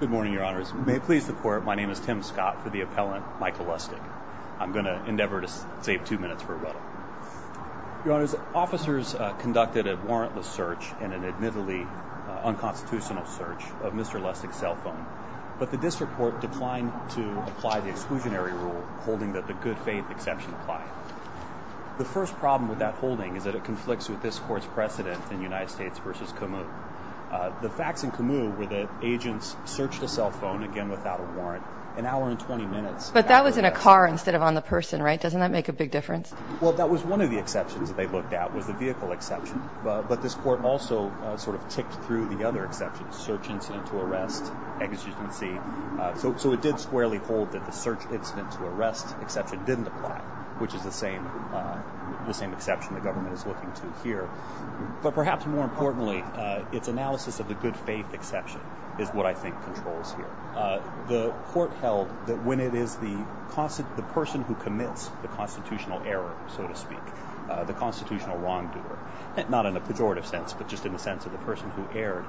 Good morning, Your Honors. May it please the Court, my name is Tim Scott for the appellant Michael Lustig. I'm going to endeavor to save two minutes for a rebuttal. Your Honors, officers conducted a warrantless search and an admittedly unconstitutional search of Mr. Lustig's cell phone, but the district court declined to apply the exclusionary rule holding that the good faith exception applied. The first problem with that holding is that it conflicts with this court's precedent in United States v. Camus. The facts in Camus were that agents searched a cell phone, again without a warrant, an hour and 20 minutes after the accident. But that was in a car instead of on the person, right? Doesn't that make a big difference? Well, that was one of the exceptions that they looked at, was the vehicle exception. But this court also sort of ticked through the other exceptions, search incident to arrest, exigency. So it did squarely hold that the search incident to arrest exception didn't apply, which is the same exception the government is looking to here. But perhaps more importantly, its analysis of the good faith exception is what I think controls here. The court held that when it is the person who commits the constitutional error, so to speak, the constitutional wrongdoer, not in a pejorative sense, but just in the sense of the person who erred,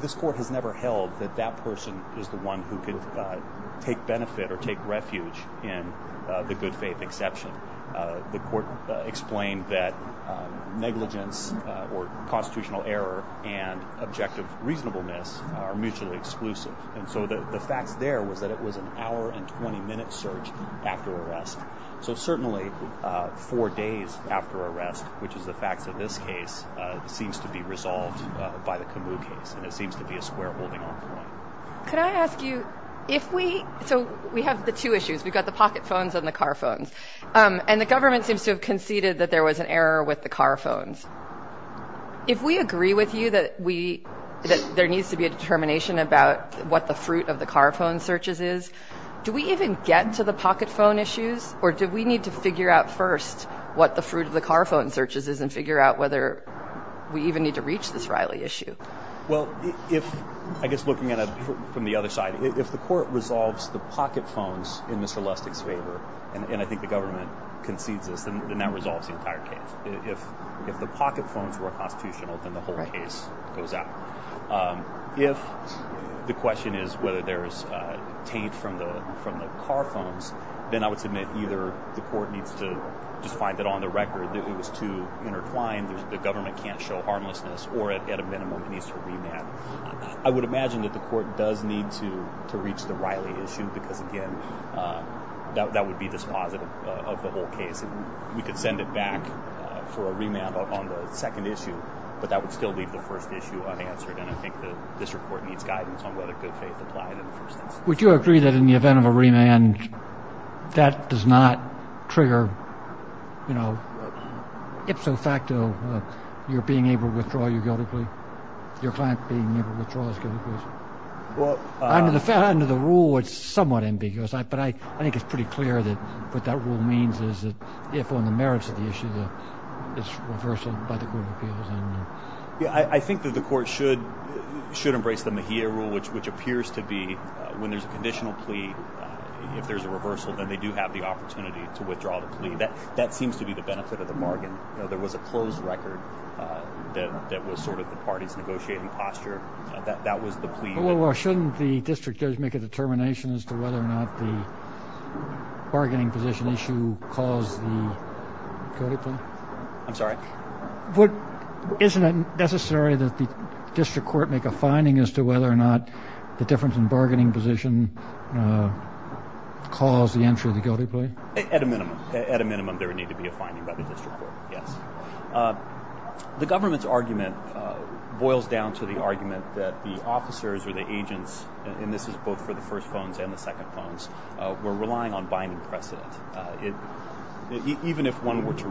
this court has never held that that person is the one who can take benefit or take refuge in the good faith exception. The court explained that negligence or constitutional error and objective reasonableness are mutually exclusive. And so the facts there was that it was an hour and 20 minute search after arrest. So certainly four days after arrest, which is the facts of this case, seems to be resolved by the Camus case. And it seems to be a square holding. Could I ask you if we so we have the two issues, we've got the pocket phones and the car phones and the government seems to have conceded that there was an error with the car phones. If we agree with you that we that there needs to be a determination about what the fruit of the car phone searches is, do we even get to the pocket phone issues or do we need to figure out first what the fruit of the car phone searches is and figure out whether we even need to reach this Riley issue? Well, if I guess looking at it from the other side, if the court resolves the pocket phones in Mr Lustig's favor, and I think the government concedes this, then that resolves the entire case. If if the pocket phones were constitutional, then the whole case goes out. If the question is whether there is a taint from the from the car phones, then I would submit either the court needs to just find it on the record that it was too intertwined. The government can't show harmlessness or at a minimum it needs to remand. I would imagine that the court does need to to reach the Riley issue because again, that would be dispositive of the whole case. We could send it back for a remand on the second issue, but that would still leave the first issue unanswered. And I think the district court needs guidance on whether good faith would you agree that in the event of a remand that does not trigger, you know, ipso facto, you're being able to withdraw your guilty plea? Your client being able to withdraw his guilty plea? Well, under the rule, it's somewhat ambiguous, but I think it's pretty clear that what that rule means is that if on the merits of the issue, it's reversal by the Court of Appeals. Yeah, I think that the court should should embrace the Mejia rule, which which appears to be when there's a conditional plea. If there's a reversal, then they do have the opportunity to withdraw the plea that that seems to be the benefit of the bargain. You know, there was a closed record that that was sort of the party's negotiating posture that that was the plea. Well, shouldn't the district judge make a determination as to whether or not the bargaining position issue cause the guilty plea? I'm sorry. What isn't necessary that the district court make a finding as to whether or not the difference in bargaining position cause the entry of the guilty plea? At a minimum, at a minimum, there would need to be a finding by the district court, yes. The government's argument boils down to the argument that the officers or the agents, and this is both for the first phones and the second phones, were relying on binding precedent. Even if one were to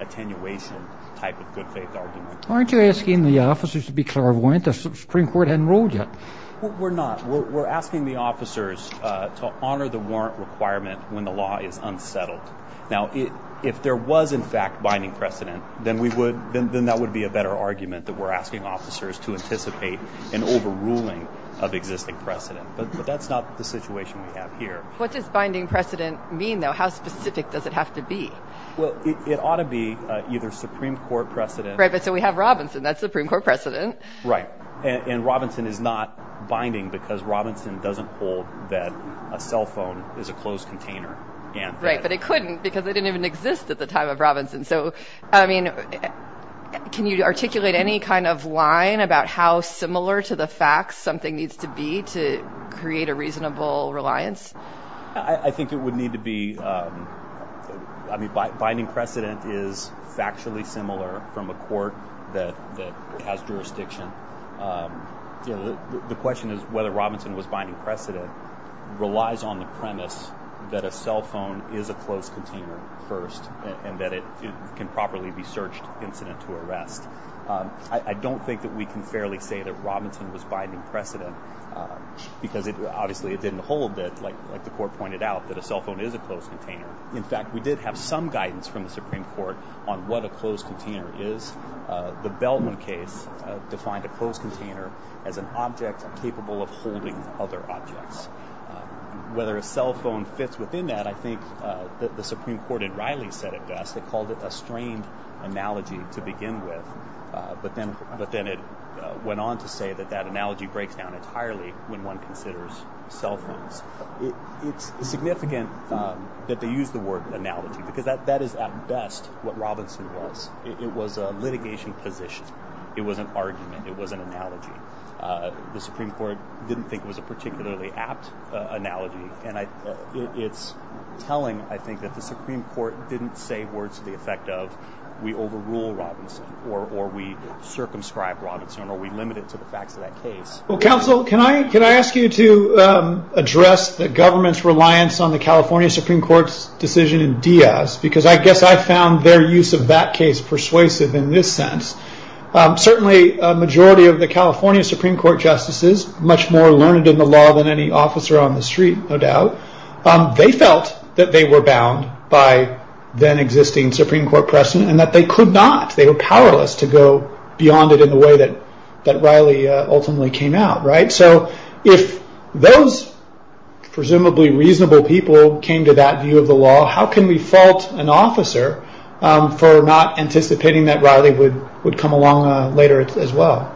attenuation type of good faith argument. Aren't you asking the officers to be clairvoyant? The Supreme Court hadn't ruled yet. We're not. We're asking the officers to honor the warrant requirement when the law is unsettled. Now, if there was, in fact, binding precedent, then we would then that would be a better argument that we're asking officers to anticipate an overruling of existing precedent. But that's not the situation we have here. What does It ought to be either Supreme Court precedent. Right, but so we have Robinson. That's Supreme Court precedent. Right. And Robinson is not binding because Robinson doesn't hold that a cell phone is a closed container. Right, but it couldn't because it didn't even exist at the time of Robinson. So, I mean, can you articulate any kind of line about how similar to the facts something needs to be to create a reasonable reliance? I think it would need to be. I mean, binding precedent is factually similar from a court that has jurisdiction. The question is whether Robinson was binding precedent relies on the premise that a cell phone is a closed container first and that it can properly be searched incident to arrest. I don't think that we can fairly say that Robinson was binding precedent because it obviously it didn't hold that like the court pointed out that a cell phone is a closed container. In fact, we did have some guidance from the Supreme Court on what a closed container is. The Bellman case defined a closed container as an object capable of holding other objects. Whether a cell phone fits within that, I think that the Supreme Court in Riley said it best. They called it a strained analogy to begin with. But then it went on to say that that cell phones, it's significant that they use the word analogy because that is at best what Robinson was. It was a litigation position. It was an argument. It was an analogy. The Supreme Court didn't think it was a particularly apt analogy. And it's telling, I think, that the Supreme Court didn't say words to the effect of we overrule Robinson or we circumscribe Robinson or we limit it to the facts of that case. Well, counsel, can I ask you to address the government's reliance on the California Supreme Court's decision in Diaz? Because I guess I found their use of that case persuasive in this sense. Certainly, a majority of the California Supreme Court justices, much more learned in the law than any officer on the street, no doubt, they felt that they were bound by then existing Supreme Court precedent and that they could not, they were powerless to go beyond it in the way that Riley ultimately came out. If those presumably reasonable people came to that view of the law, how can we fault an officer for not anticipating that Riley would come along later as well?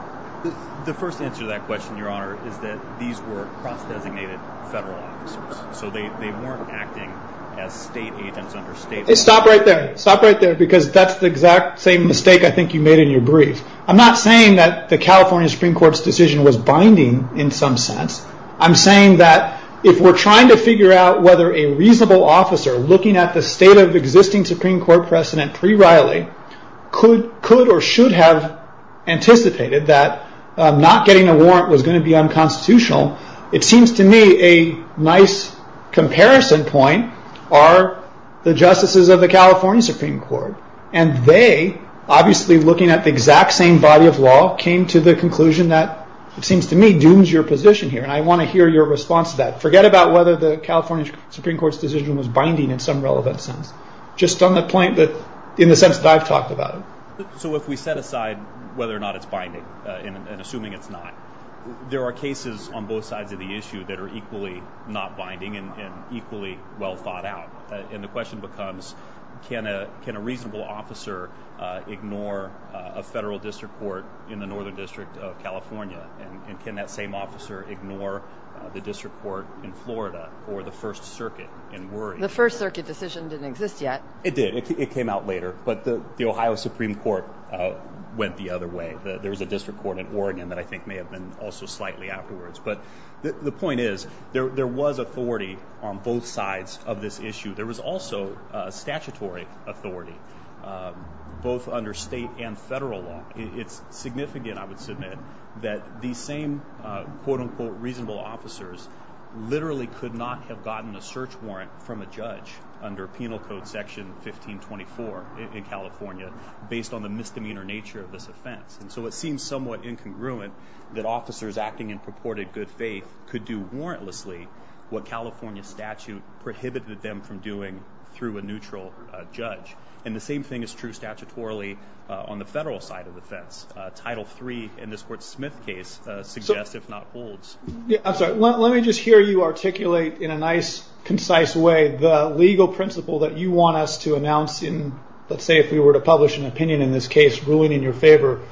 The first answer to that question, your honor, is that these were cross-designated federal officers. They weren't acting as state agents under state law. Stop right there. Stop right there because that's the exact same mistake I think you made in your brief. I'm not saying that the California Supreme Court's decision was binding in some sense. I'm saying that if we're trying to figure out whether a reasonable officer looking at the state of existing Supreme Court precedent pre-Riley could or should have anticipated that not getting a warrant was going to be unconstitutional, it seems to me a nice comparison point are the justices of the California Supreme Court. They, obviously looking at the exact same body of law, came to the conclusion that, it seems to me, dooms your position here. I want to hear your response to that. Forget about whether the California Supreme Court's decision was binding in some relevant sense. Just on the point that, in the sense that I've talked about it. If we set aside whether or not it's binding and assuming it's not, there are cases on And the question becomes, can a reasonable officer ignore a federal district court in the Northern District of California? And can that same officer ignore the district court in Florida or the First Circuit? The First Circuit decision didn't exist yet. It did. It came out later. But the Ohio Supreme Court went the other way. There's a district court in Oregon that I think may have been also slightly afterwards. But the point is, there was authority on both sides of this issue. There was also statutory authority, both under state and federal law. It's significant, I would submit, that these same quote-unquote reasonable officers literally could not have gotten a search warrant from a judge under Penal Code Section 1524 in California, based on the misdemeanor nature of this offense. And so it seems somewhat incongruent that officers acting in purported good faith could do warrantlessly what California statute prohibited them from doing through a neutral judge. And the same thing is true statutorily on the federal side of the fence. Title III in this Court Smith case suggests, if not holds. I'm sorry. Let me just hear you articulate in a nice, concise way the legal principle that you want us to announce in, let's say if we were to publish an opinion in this case ruling in your favor,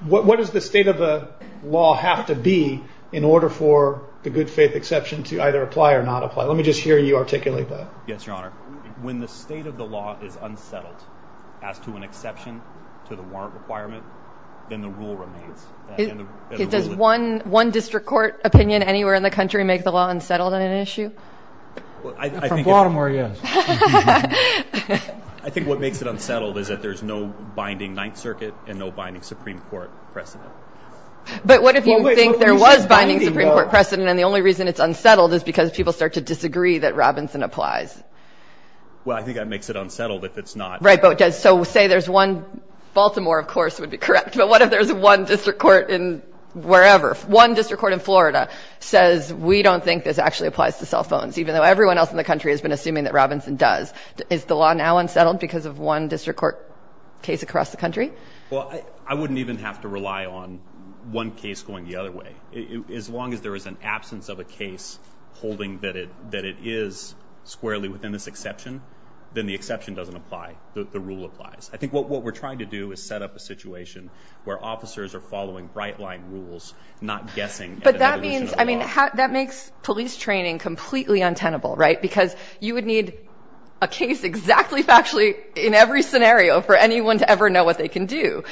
what does the state of the law have to be in order for the good faith exception to either apply or not apply? Let me just hear you articulate that. Yes, Your Honor. When the state of the law is unsettled as to an exception to the warrant requirement, then the rule remains. Does one district court opinion anywhere in the country make the law unsettled on an issue? From Baltimore, yes. I think what makes it unsettled is that there's no binding Ninth Circuit and no binding Supreme Court precedent. But what if you think there was binding Supreme Court precedent and the only reason it's unsettled is because people start to disagree that Robinson applies? Well, I think that makes it unsettled if it's not. Right, so say there's one, Baltimore, of course, would be correct, but what if there's one district court in wherever, one district court in Florida, says we don't think this actually applies to cell phones, even though everyone else in the country has been assuming that Robinson does? Is the law now unsettled because of one district court case across the country? Well, I wouldn't even have to rely on one case going the other way. As long as there is an absence of a case holding that it is squarely within this exception, then the exception doesn't apply, the rule applies. I think what we're trying to do is set up a situation where officers are following bright-line rules, not guessing at an evolution of the law. I mean, that makes police training completely untenable, right? Because you would need a case exactly factually in every scenario for anyone to ever know what they can do.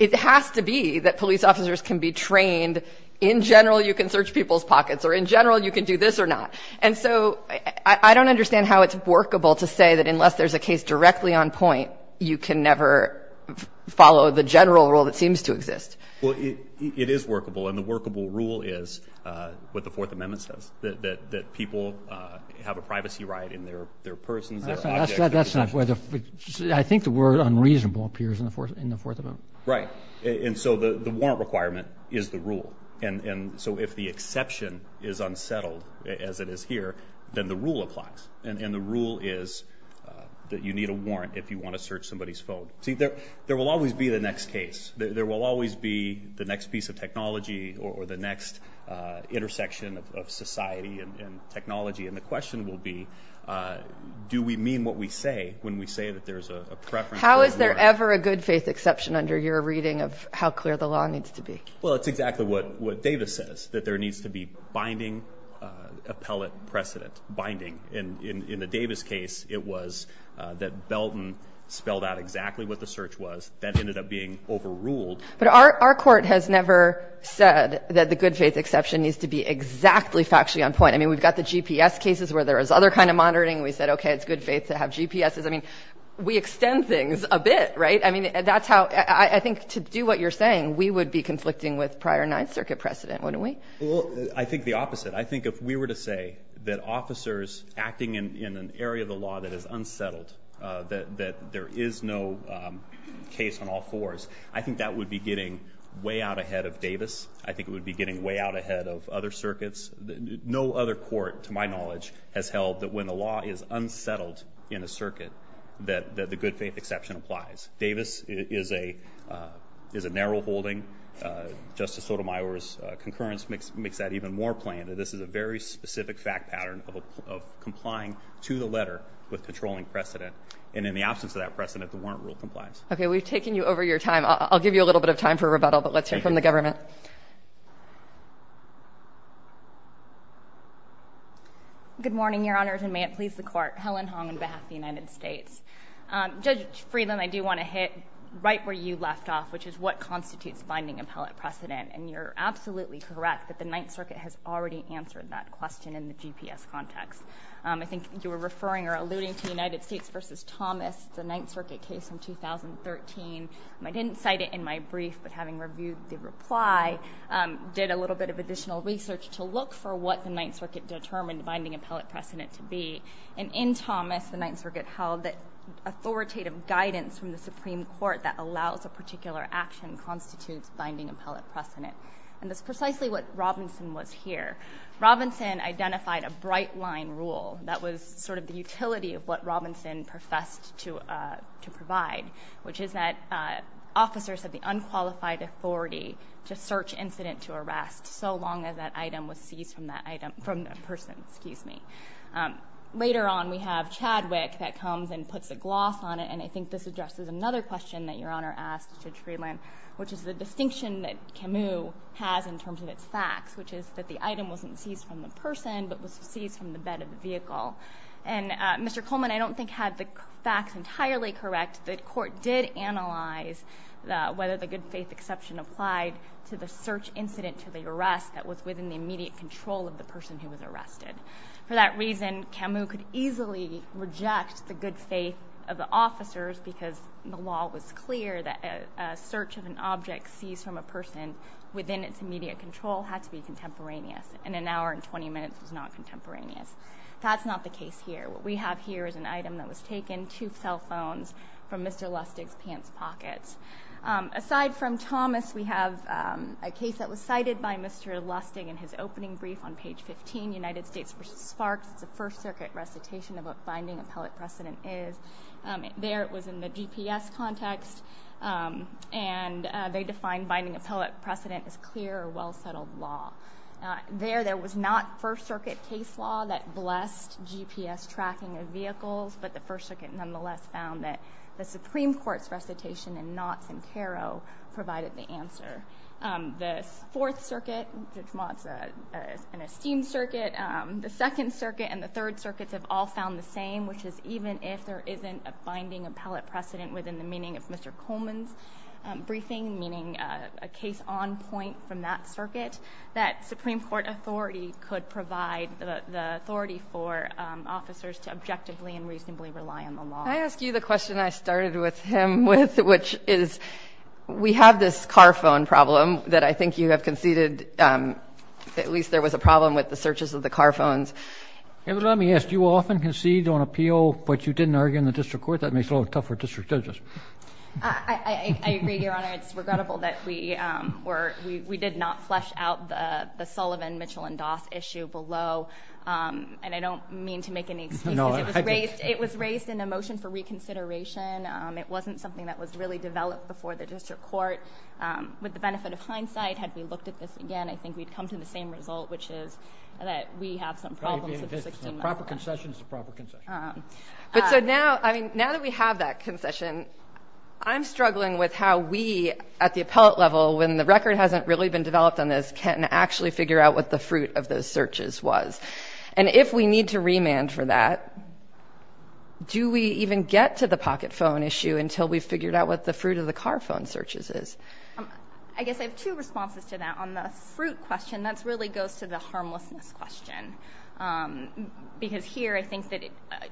It has to be that police officers can be trained, in general you can search people's pockets or in general you can do this or not. And so I don't understand how it's workable to say that unless there's a case directly on point, you can never follow the general rule that seems to exist. Well, it is workable and the workable rule is what the Fourth Amendment says, that people have a privacy right in their persons, their objects, their possessions. I think the word unreasonable appears in the Fourth Amendment. Right, and so the warrant requirement is the rule. And so if the exception is unsettled as it is here, then the rule applies. And the rule is that you need a warrant if you want to search somebody's phone. See, there will always be the next case. There will always be the next piece of technology or the next intersection of society and technology. And the question will be, do we mean what we say when we say that there's a preference? How is there ever a good faith exception under your reading of how clear the law needs to be? Well, it's exactly what Davis says, that there needs to be binding appellate precedent, binding. In the Davis case, it was that Belton spelled out exactly what the search was. That ended up being overruled. But our court has never said that the good faith exception needs to be exactly factually on point. I mean, we've got the GPS cases where there is other kind of monitoring. We said, okay, it's good faith to have GPSes. I mean, we extend things a bit, right? I mean, that's how I think to do what you're saying, we would be conflicting with prior Ninth Circuit precedent, wouldn't we? Well, I think the opposite. I think if we were to say that officers acting in an area of the law that is unsettled, that there is no case on all fours, I think that would be getting way out ahead of Davis. I think it would be getting way out ahead of other circuits. No other court, to my knowledge, has held that when the law is unsettled in a circuit, that the good faith exception applies. Davis is a narrow holding. Justice Sotomayor's concurrence makes that even more plain. This is a very specific fact pattern of complying to the letter with patrolling precedent. And in the absence of that precedent, the warrant rule complies. Okay, we've taken you over your time. I'll give you a little bit of time for rebuttal, but let's hear from the government. Thank you. Good morning, Your Honors, and may it please the Court. Helen Hong on behalf of the United States. Judge Freeland, I do want to hit right where you left off, which is what constitutes binding appellate precedent. And you're absolutely correct that the Ninth Circuit has already answered that question in the GPS context. I think you were referring or alluding to United States v. Thomas, the Ninth Circuit case from 2013. I didn't cite it in my brief, but having reviewed the reply, did a little bit of additional research to look for what the Ninth Circuit determined binding appellate precedent to be. And in Thomas, the Ninth Circuit held that authoritative guidance from the Supreme Court that allows a particular action constitutes binding appellate precedent. And that's precisely what Robinson was here. Robinson identified a bright-line rule that was sort of the utility of what Robinson professed to provide, which is that officers have the unqualified authority to search incident to arrest so long as that item was seized from that person. Later on, we have Chadwick that comes and puts a gloss on it, and I think this addresses another question that Your Honor asked Judge Friedland, which is the distinction that Camus has in terms of its facts, which is that the item wasn't seized from the person but was seized from the bed of the vehicle. And Mr. Coleman, I don't think, had the facts entirely correct. The court did analyze whether the good-faith exception applied to the search incident to the arrest that was within the immediate control of the person who was arrested. For that reason, Camus could easily reject the good-faith of the officers because the law was clear that a search of an object seized from a person within its immediate control had to be contemporaneous, and an hour and 20 minutes was not contemporaneous. That's not the case here. What we have here is an item that was taken, two cell phones from Mr. Lustig's pants pockets. Aside from Thomas, we have a case that was cited by Mr. Lustig in his opening brief on page 15, United States v. Sparks. It's a First Circuit recitation of what binding appellate precedent is. There it was in the GPS context, and they defined binding appellate precedent as clear or well-settled law. There, there was not First Circuit case law that blessed GPS tracking of vehicles, but the First Circuit nonetheless found that the Supreme Court's recitation in Knotts and Caro provided the answer. The Fourth Circuit, which Knotts is an esteemed circuit, the Second Circuit and the Third Circuits have all found the same, which is even if there isn't a binding appellate precedent within the meaning of Mr. Coleman's briefing, meaning a case on point from that circuit, that Supreme Court authority could provide the authority for officers to objectively and reasonably rely on the law. Can I ask you the question I started with him with, which is, we have this car phone problem that I think you have conceded, at least there was a problem with the searches of the car phones. Let me ask, do you often concede on appeal, but you didn't argue in the district court? That makes it a little tougher for district judges. I agree, Your Honor. It's regrettable that we did not flesh out the Sullivan, Mitchell, and Doss issue below, and I don't mean to make any excuses. It was raised in a motion for reconsideration. It wasn't something that was really developed before the district court. With the benefit of hindsight, had we looked at this again, I think we'd come to the same result, which is that we have some problems with the 16-mile line. A proper concession is a proper concession. But so now, I mean, now that we have that concession, I'm struggling with how we at the appellate level, when the record hasn't really been developed on this, can actually figure out what the fruit of those searches was. And if we need to remand for that, do we even get to the pocket phone issue until we've figured out what the fruit of the car phone searches is? I guess I have two responses to that. On the fruit question, that really goes to the harmlessness question. Because here, I think that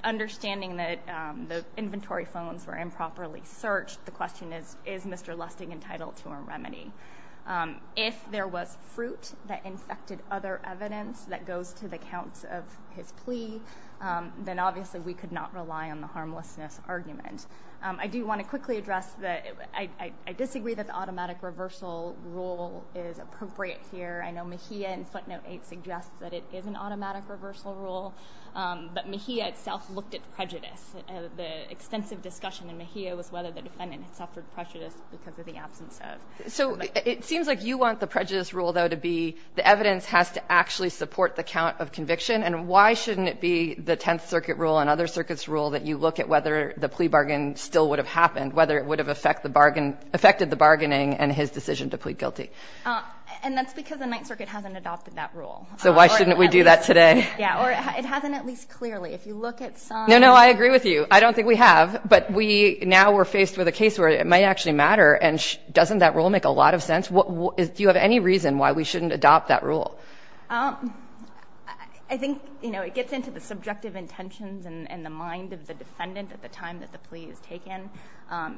understanding that the inventory phones were improperly searched, the question is, is Mr. Lustig entitled to a remedy? If there was fruit that infected other evidence that goes to the counts of his plea, then obviously we could not rely on the harmlessness argument. I do want to quickly address that I disagree that the automatic reversal rule is appropriate here. I know Mejia in footnote 8 suggests that it is an automatic reversal rule, but Mejia itself looked at prejudice. The extensive discussion in Mejia was whether the defendant had suffered prejudice because of the absence of… So it seems like you want the prejudice rule, though, to be the evidence has to actually support the count of conviction. And why shouldn't it be the Tenth Circuit rule and other circuits' rule that you look at whether the plea bargain still would have happened, whether it would have affected the bargaining and his decision to plead guilty? And that's because the Ninth Circuit hasn't adopted that rule. So why shouldn't we do that today? Yeah, or it hasn't at least clearly. If you look at some… No, no, I agree with you. I don't think we have. But we now are faced with a case where it might actually matter, and doesn't that rule make a lot of sense? Do you have any reason why we shouldn't adopt that rule? I think, you know, it gets into the subjective intentions and the mind of the defendant at the time that the plea is taken.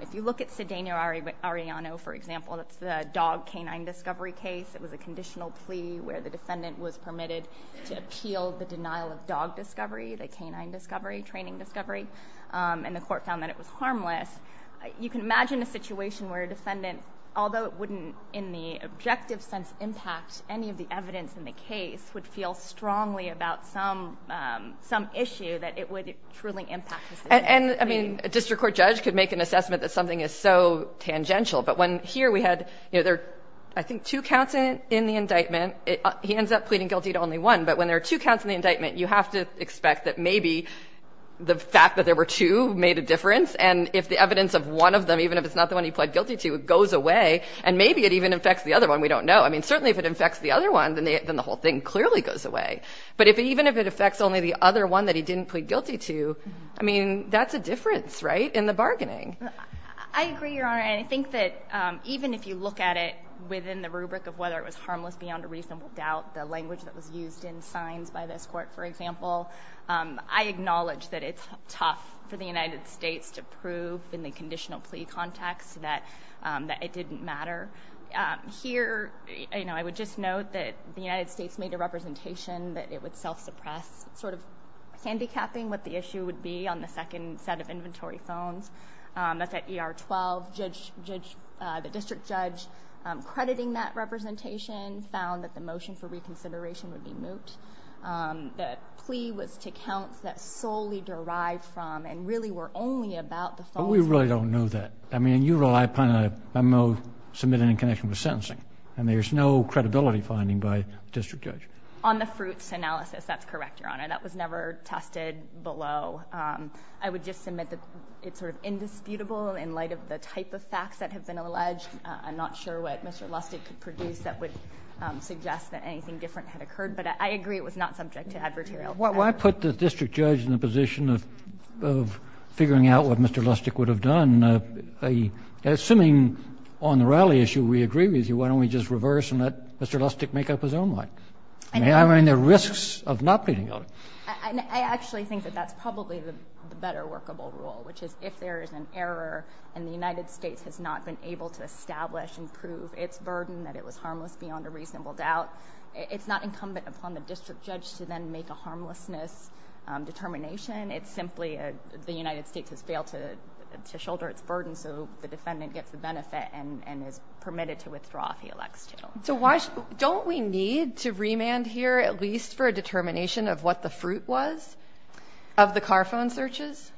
If you look at Sedeno-Arellano, for example, that's the dog canine discovery case. It was a conditional plea where the defendant was permitted to appeal the denial of dog discovery, the canine discovery, training discovery. And the court found that it was harmless. You can imagine a situation where a defendant, although it wouldn't in the objective sense impact any of the evidence in the case, would feel strongly about some issue that it would truly impact the decision. And, I mean, a district court judge could make an assessment that something is so tangential. But when here we had, you know, there are, I think, two counts in the indictment. He ends up pleading guilty to only one. But when there are two counts in the indictment, you have to expect that maybe the fact that there were two made a difference. And if the evidence of one of them, even if it's not the one he pled guilty to, goes away, and maybe it even affects the other one, we don't know. I mean, certainly if it affects the other one, then the whole thing clearly goes away. But even if it affects only the other one that he didn't plead guilty to, I mean, that's a difference, right, in the bargaining. I agree, Your Honor. And I think that even if you look at it within the rubric of whether it was harmless beyond a reasonable doubt, the language that was used in signs by this court, for example, I acknowledge that it's tough for the United States to prove in the conditional plea context that it didn't matter. Here, you know, I would just note that the United States made a representation that it would self-suppress, sort of handicapping what the issue would be on the second set of inventory phones. That's at ER 12. The district judge crediting that representation found that the motion for reconsideration would be moot. The plea was to counts that solely derived from and really were only about the false... But we really don't know that. I mean, in your role, I'm not going to submit any connection with sentencing. I mean, there's no credibility finding by a district judge. On the fruits analysis, that's correct, Your Honor. That was never tested below. I would just submit that it's sort of indisputable in light of the type of facts that have been alleged. I'm not sure what Mr. Lustig could produce that would suggest that anything different had occurred. But I agree it was not subject to advertarial. Why put the district judge in the position of figuring out what Mr. Lustig would have done? Assuming on the rally issue we agree with you, why don't we just reverse and let Mr. Lustig make up his own mind? I mean, there are risks of not pleading on it. I actually think that that's probably the better workable rule, which is if there is an error and the United States has not been able to establish and prove its burden, that it was harmless beyond a reasonable doubt, it's not incumbent upon the district judge to then make a harmlessness determination. It's simply the United States has failed to shoulder its burden, so the defendant gets the benefit and is permitted to withdraw if he elects to. So don't we need to remand here at least for a determination of what the fruit was of the car phone searches?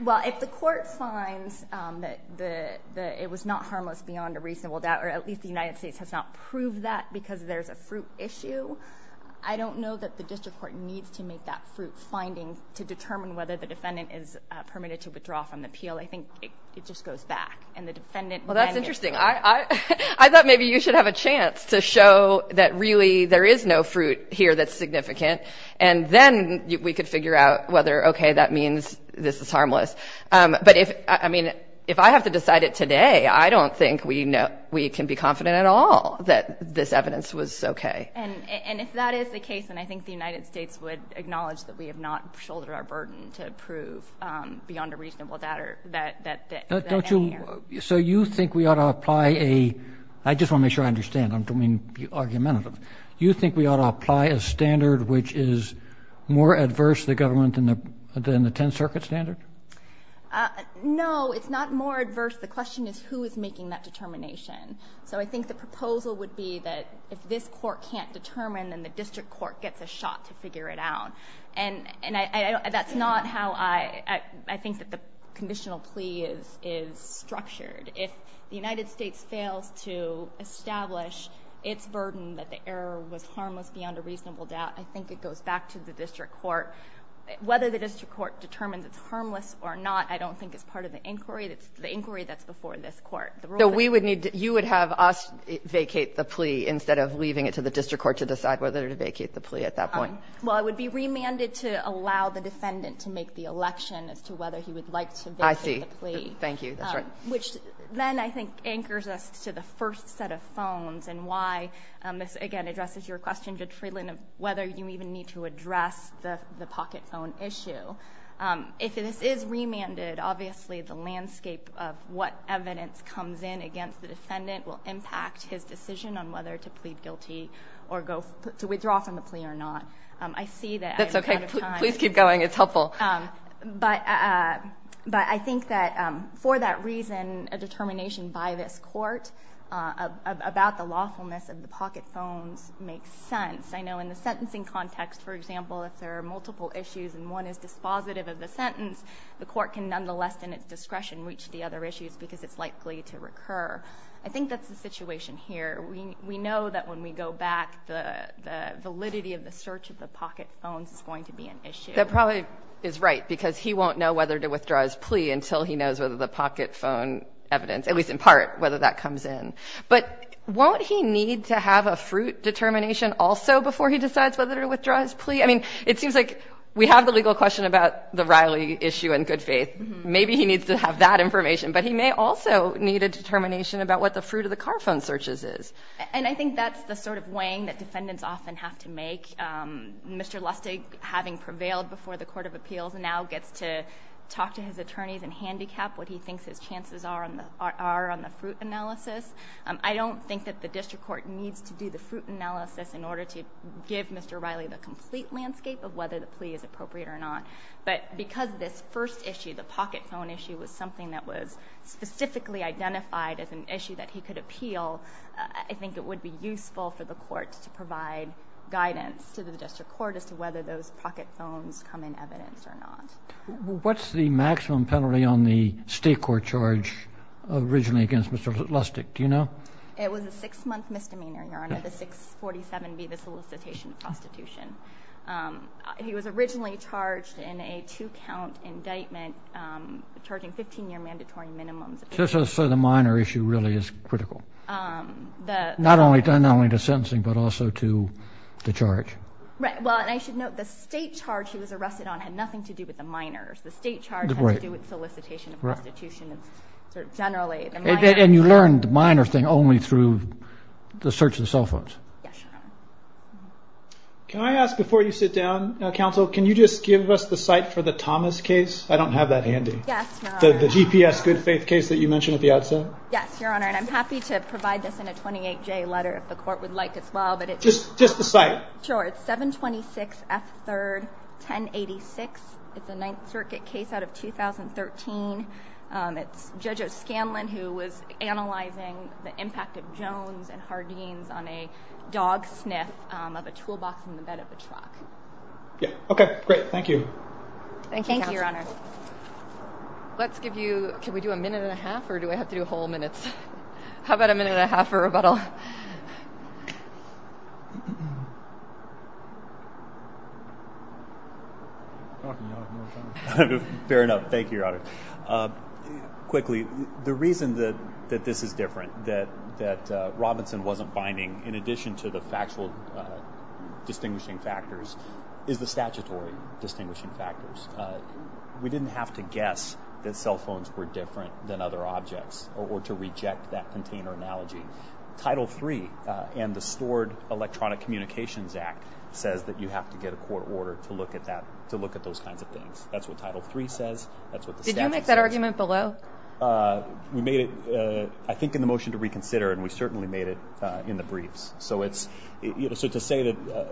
Well, if the court finds that it was not harmless beyond a reasonable doubt or at least the United States has not proved that because there's a fruit issue, I don't know that the district court needs to make that fruit finding to determine whether the defendant is permitted to withdraw from the appeal. I think it just goes back. Well, that's interesting. I thought maybe you should have a chance to show that really there is no fruit here that's significant, and then we could figure out whether, okay, that means this is harmless. But, I mean, if I have to decide it today, I don't think we can be confident at all that this evidence was okay. And if that is the case, then I think the United States would acknowledge that we have not shouldered our burden to prove beyond a reasonable doubt that that is in here. So you think we ought to apply a – I just want to make sure I understand. I don't mean to be argumentative. You think we ought to apply a standard which is more adverse to the government than the Tenth Circuit standard? No, it's not more adverse. The question is who is making that determination. So I think the proposal would be that if this court can't determine, then the district court gets a shot to figure it out. And that's not how I think that the conditional plea is structured. If the United States fails to establish its burden that the error was harmless beyond a reasonable doubt, I think it goes back to the district court. Whether the district court determines it's harmless or not, I don't think it's part of the inquiry. It's the inquiry that's before this court. So we would need – you would have us vacate the plea instead of leaving it to the district court to decide whether to vacate the plea at that point? Well, it would be remanded to allow the defendant to make the election as to whether he would like to vacate the plea. I see. Thank you. That's right. Which then I think anchors us to the first set of phones and why this, again, addresses your question, Judge Freeland, of whether you even need to address the pocket phone issue. If this is remanded, obviously the landscape of what evidence comes in against the defendant will impact his decision on whether to plead guilty or to withdraw from the plea or not. I see that I'm out of time. That's okay. Please keep going. It's helpful. But I think that for that reason, a determination by this court about the lawfulness of the pocket phones makes sense. I know in the sentencing context, for example, if there are multiple issues and one is dispositive of the sentence, the court can nonetheless, in its discretion, reach the other issues because it's likely to recur. I think that's the situation here. We know that when we go back, the validity of the search of the pocket phones is going to be an issue. That probably is right because he won't know whether to withdraw his plea until he knows whether the pocket phone evidence, at least in part, whether that comes in. But won't he need to have a fruit determination also before he decides whether to withdraw his plea? I mean, it seems like we have the legal question about the Riley issue in good faith. Maybe he needs to have that information, but he may also need a determination about what the fruit of the car phone searches is. And I think that's the sort of weighing that defendants often have to make. Mr. Lustig, having prevailed before the Court of Appeals, now gets to talk to his attorneys and handicap what he thinks his chances are on the fruit analysis. I don't think that the district court needs to do the fruit analysis in order to give Mr. Riley the complete landscape of whether the plea is appropriate or not. But because this first issue, the pocket phone issue, was something that was specifically identified as an issue that he could appeal, I think it would be useful for the court to provide guidance to the district court as to whether those pocket phones come in evidence or not. What's the maximum penalty on the state court charge originally against Mr. Lustig? Do you know? It was a six-month misdemeanor, Your Honor, the 647B, the solicitation of prostitution. He was originally charged in a two-count indictment, charging 15-year mandatory minimums. So the minor issue really is critical, not only to sentencing but also to the charge. Right. Well, and I should note the state charge he was arrested on had nothing to do with the minors. The state charge had to do with solicitation of prostitution. And you learned the minor thing only through the search of the cell phones? Yes, Your Honor. Can I ask before you sit down, counsel, can you just give us the site for the Thomas case? I don't have that handy. The GPS good faith case that you mentioned at the outset? Yes, Your Honor, and I'm happy to provide this in a 28-J letter if the court would like as well. Just the site? Sure, it's 726 F. 3rd, 1086. It's a Ninth Circuit case out of 2013. It's Judge O'Scanlan who was analyzing the impact of Jones and Hardeen's on a dog sniff of a toolbox in the bed of a truck. Okay, great. Thank you. Thank you, Your Honor. Let's give you, can we do a minute and a half or do I have to do whole minutes? How about a minute and a half for rebuttal? I'm talking, Your Honor. Fair enough. Thank you, Your Honor. Quickly, the reason that this is different, that Robinson wasn't finding, in addition to the factual distinguishing factors, is the statutory distinguishing factors. We didn't have to guess that cell phones were different than other objects or to reject that container analogy. Title III and the Stored Electronic Communications Act says that you have to get a court order to look at those kinds of things. That's what Title III says. Did you make that argument below? We made it, I think, in the motion to reconsider, and we certainly made it in the briefs. So to say that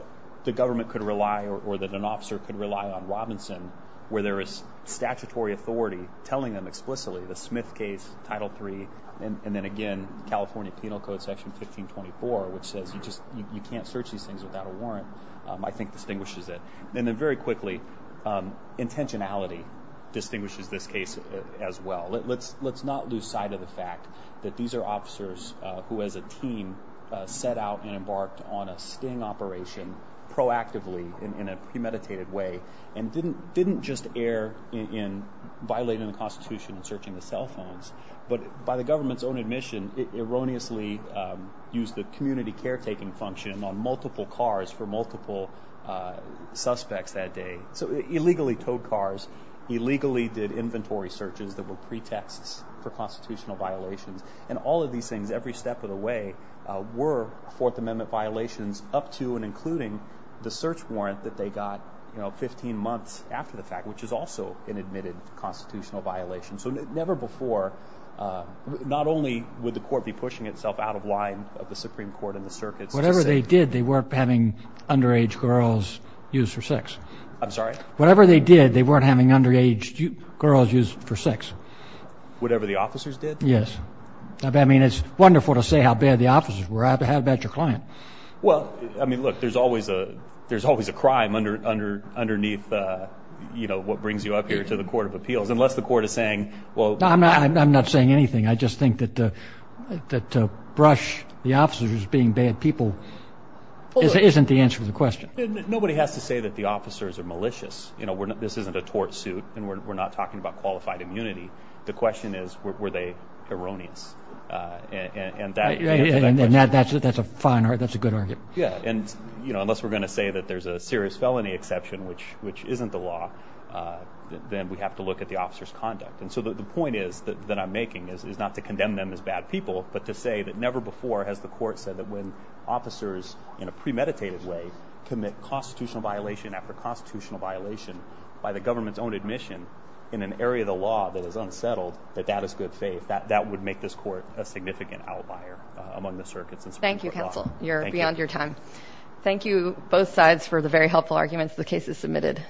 the government could rely or that an officer could rely on Robinson where there is statutory authority telling them explicitly the Smith case, Title III, and then again California Penal Code Section 1524, which says you can't search these things without a warrant, I think distinguishes it. And then very quickly, intentionality distinguishes this case as well. Let's not lose sight of the fact that these are officers who as a team set out and embarked on a sting operation proactively in a premeditated way and didn't just err in violating the Constitution and searching the cell phones, but by the government's own admission erroneously used the community caretaking function on multiple cars for multiple suspects that day. So illegally towed cars, illegally did inventory searches that were pretexts for constitutional violations, and all of these things every step of the way were Fourth Amendment violations up to and including the search warrant that they got 15 months after the fact, which is also an admitted constitutional violation. So never before, not only would the court be pushing itself out of line of the Supreme Court and the circuits. Whatever they did, they weren't having underage girls used for sex. I'm sorry? Whatever they did, they weren't having underage girls used for sex. Whatever the officers did? Yes. I mean, it's wonderful to say how bad the officers were. How about your client? Well, I mean, look, there's always a crime underneath, you know, what brings you up here to the Court of Appeals, unless the court is saying, well, I'm not saying anything. I just think that to brush the officers as being bad people isn't the answer to the question. Nobody has to say that the officers are malicious. You know, this isn't a tort suit, and we're not talking about qualified immunity. The question is, were they erroneous? And that's a fine argument. That's a good argument. Yeah, and, you know, unless we're going to say that there's a serious felony exception, which isn't the law, then we have to look at the officers' conduct. And so the point that I'm making is not to condemn them as bad people, but to say that never before has the court said that when officers, in a premeditated way, commit constitutional violation after constitutional violation by the government's own admission in an area of the law that is unsettled, that that is good faith. That would make this court a significant outlier among the circuits. Thank you, counsel. You're beyond your time. Thank you both sides for the very helpful arguments. The case is submitted.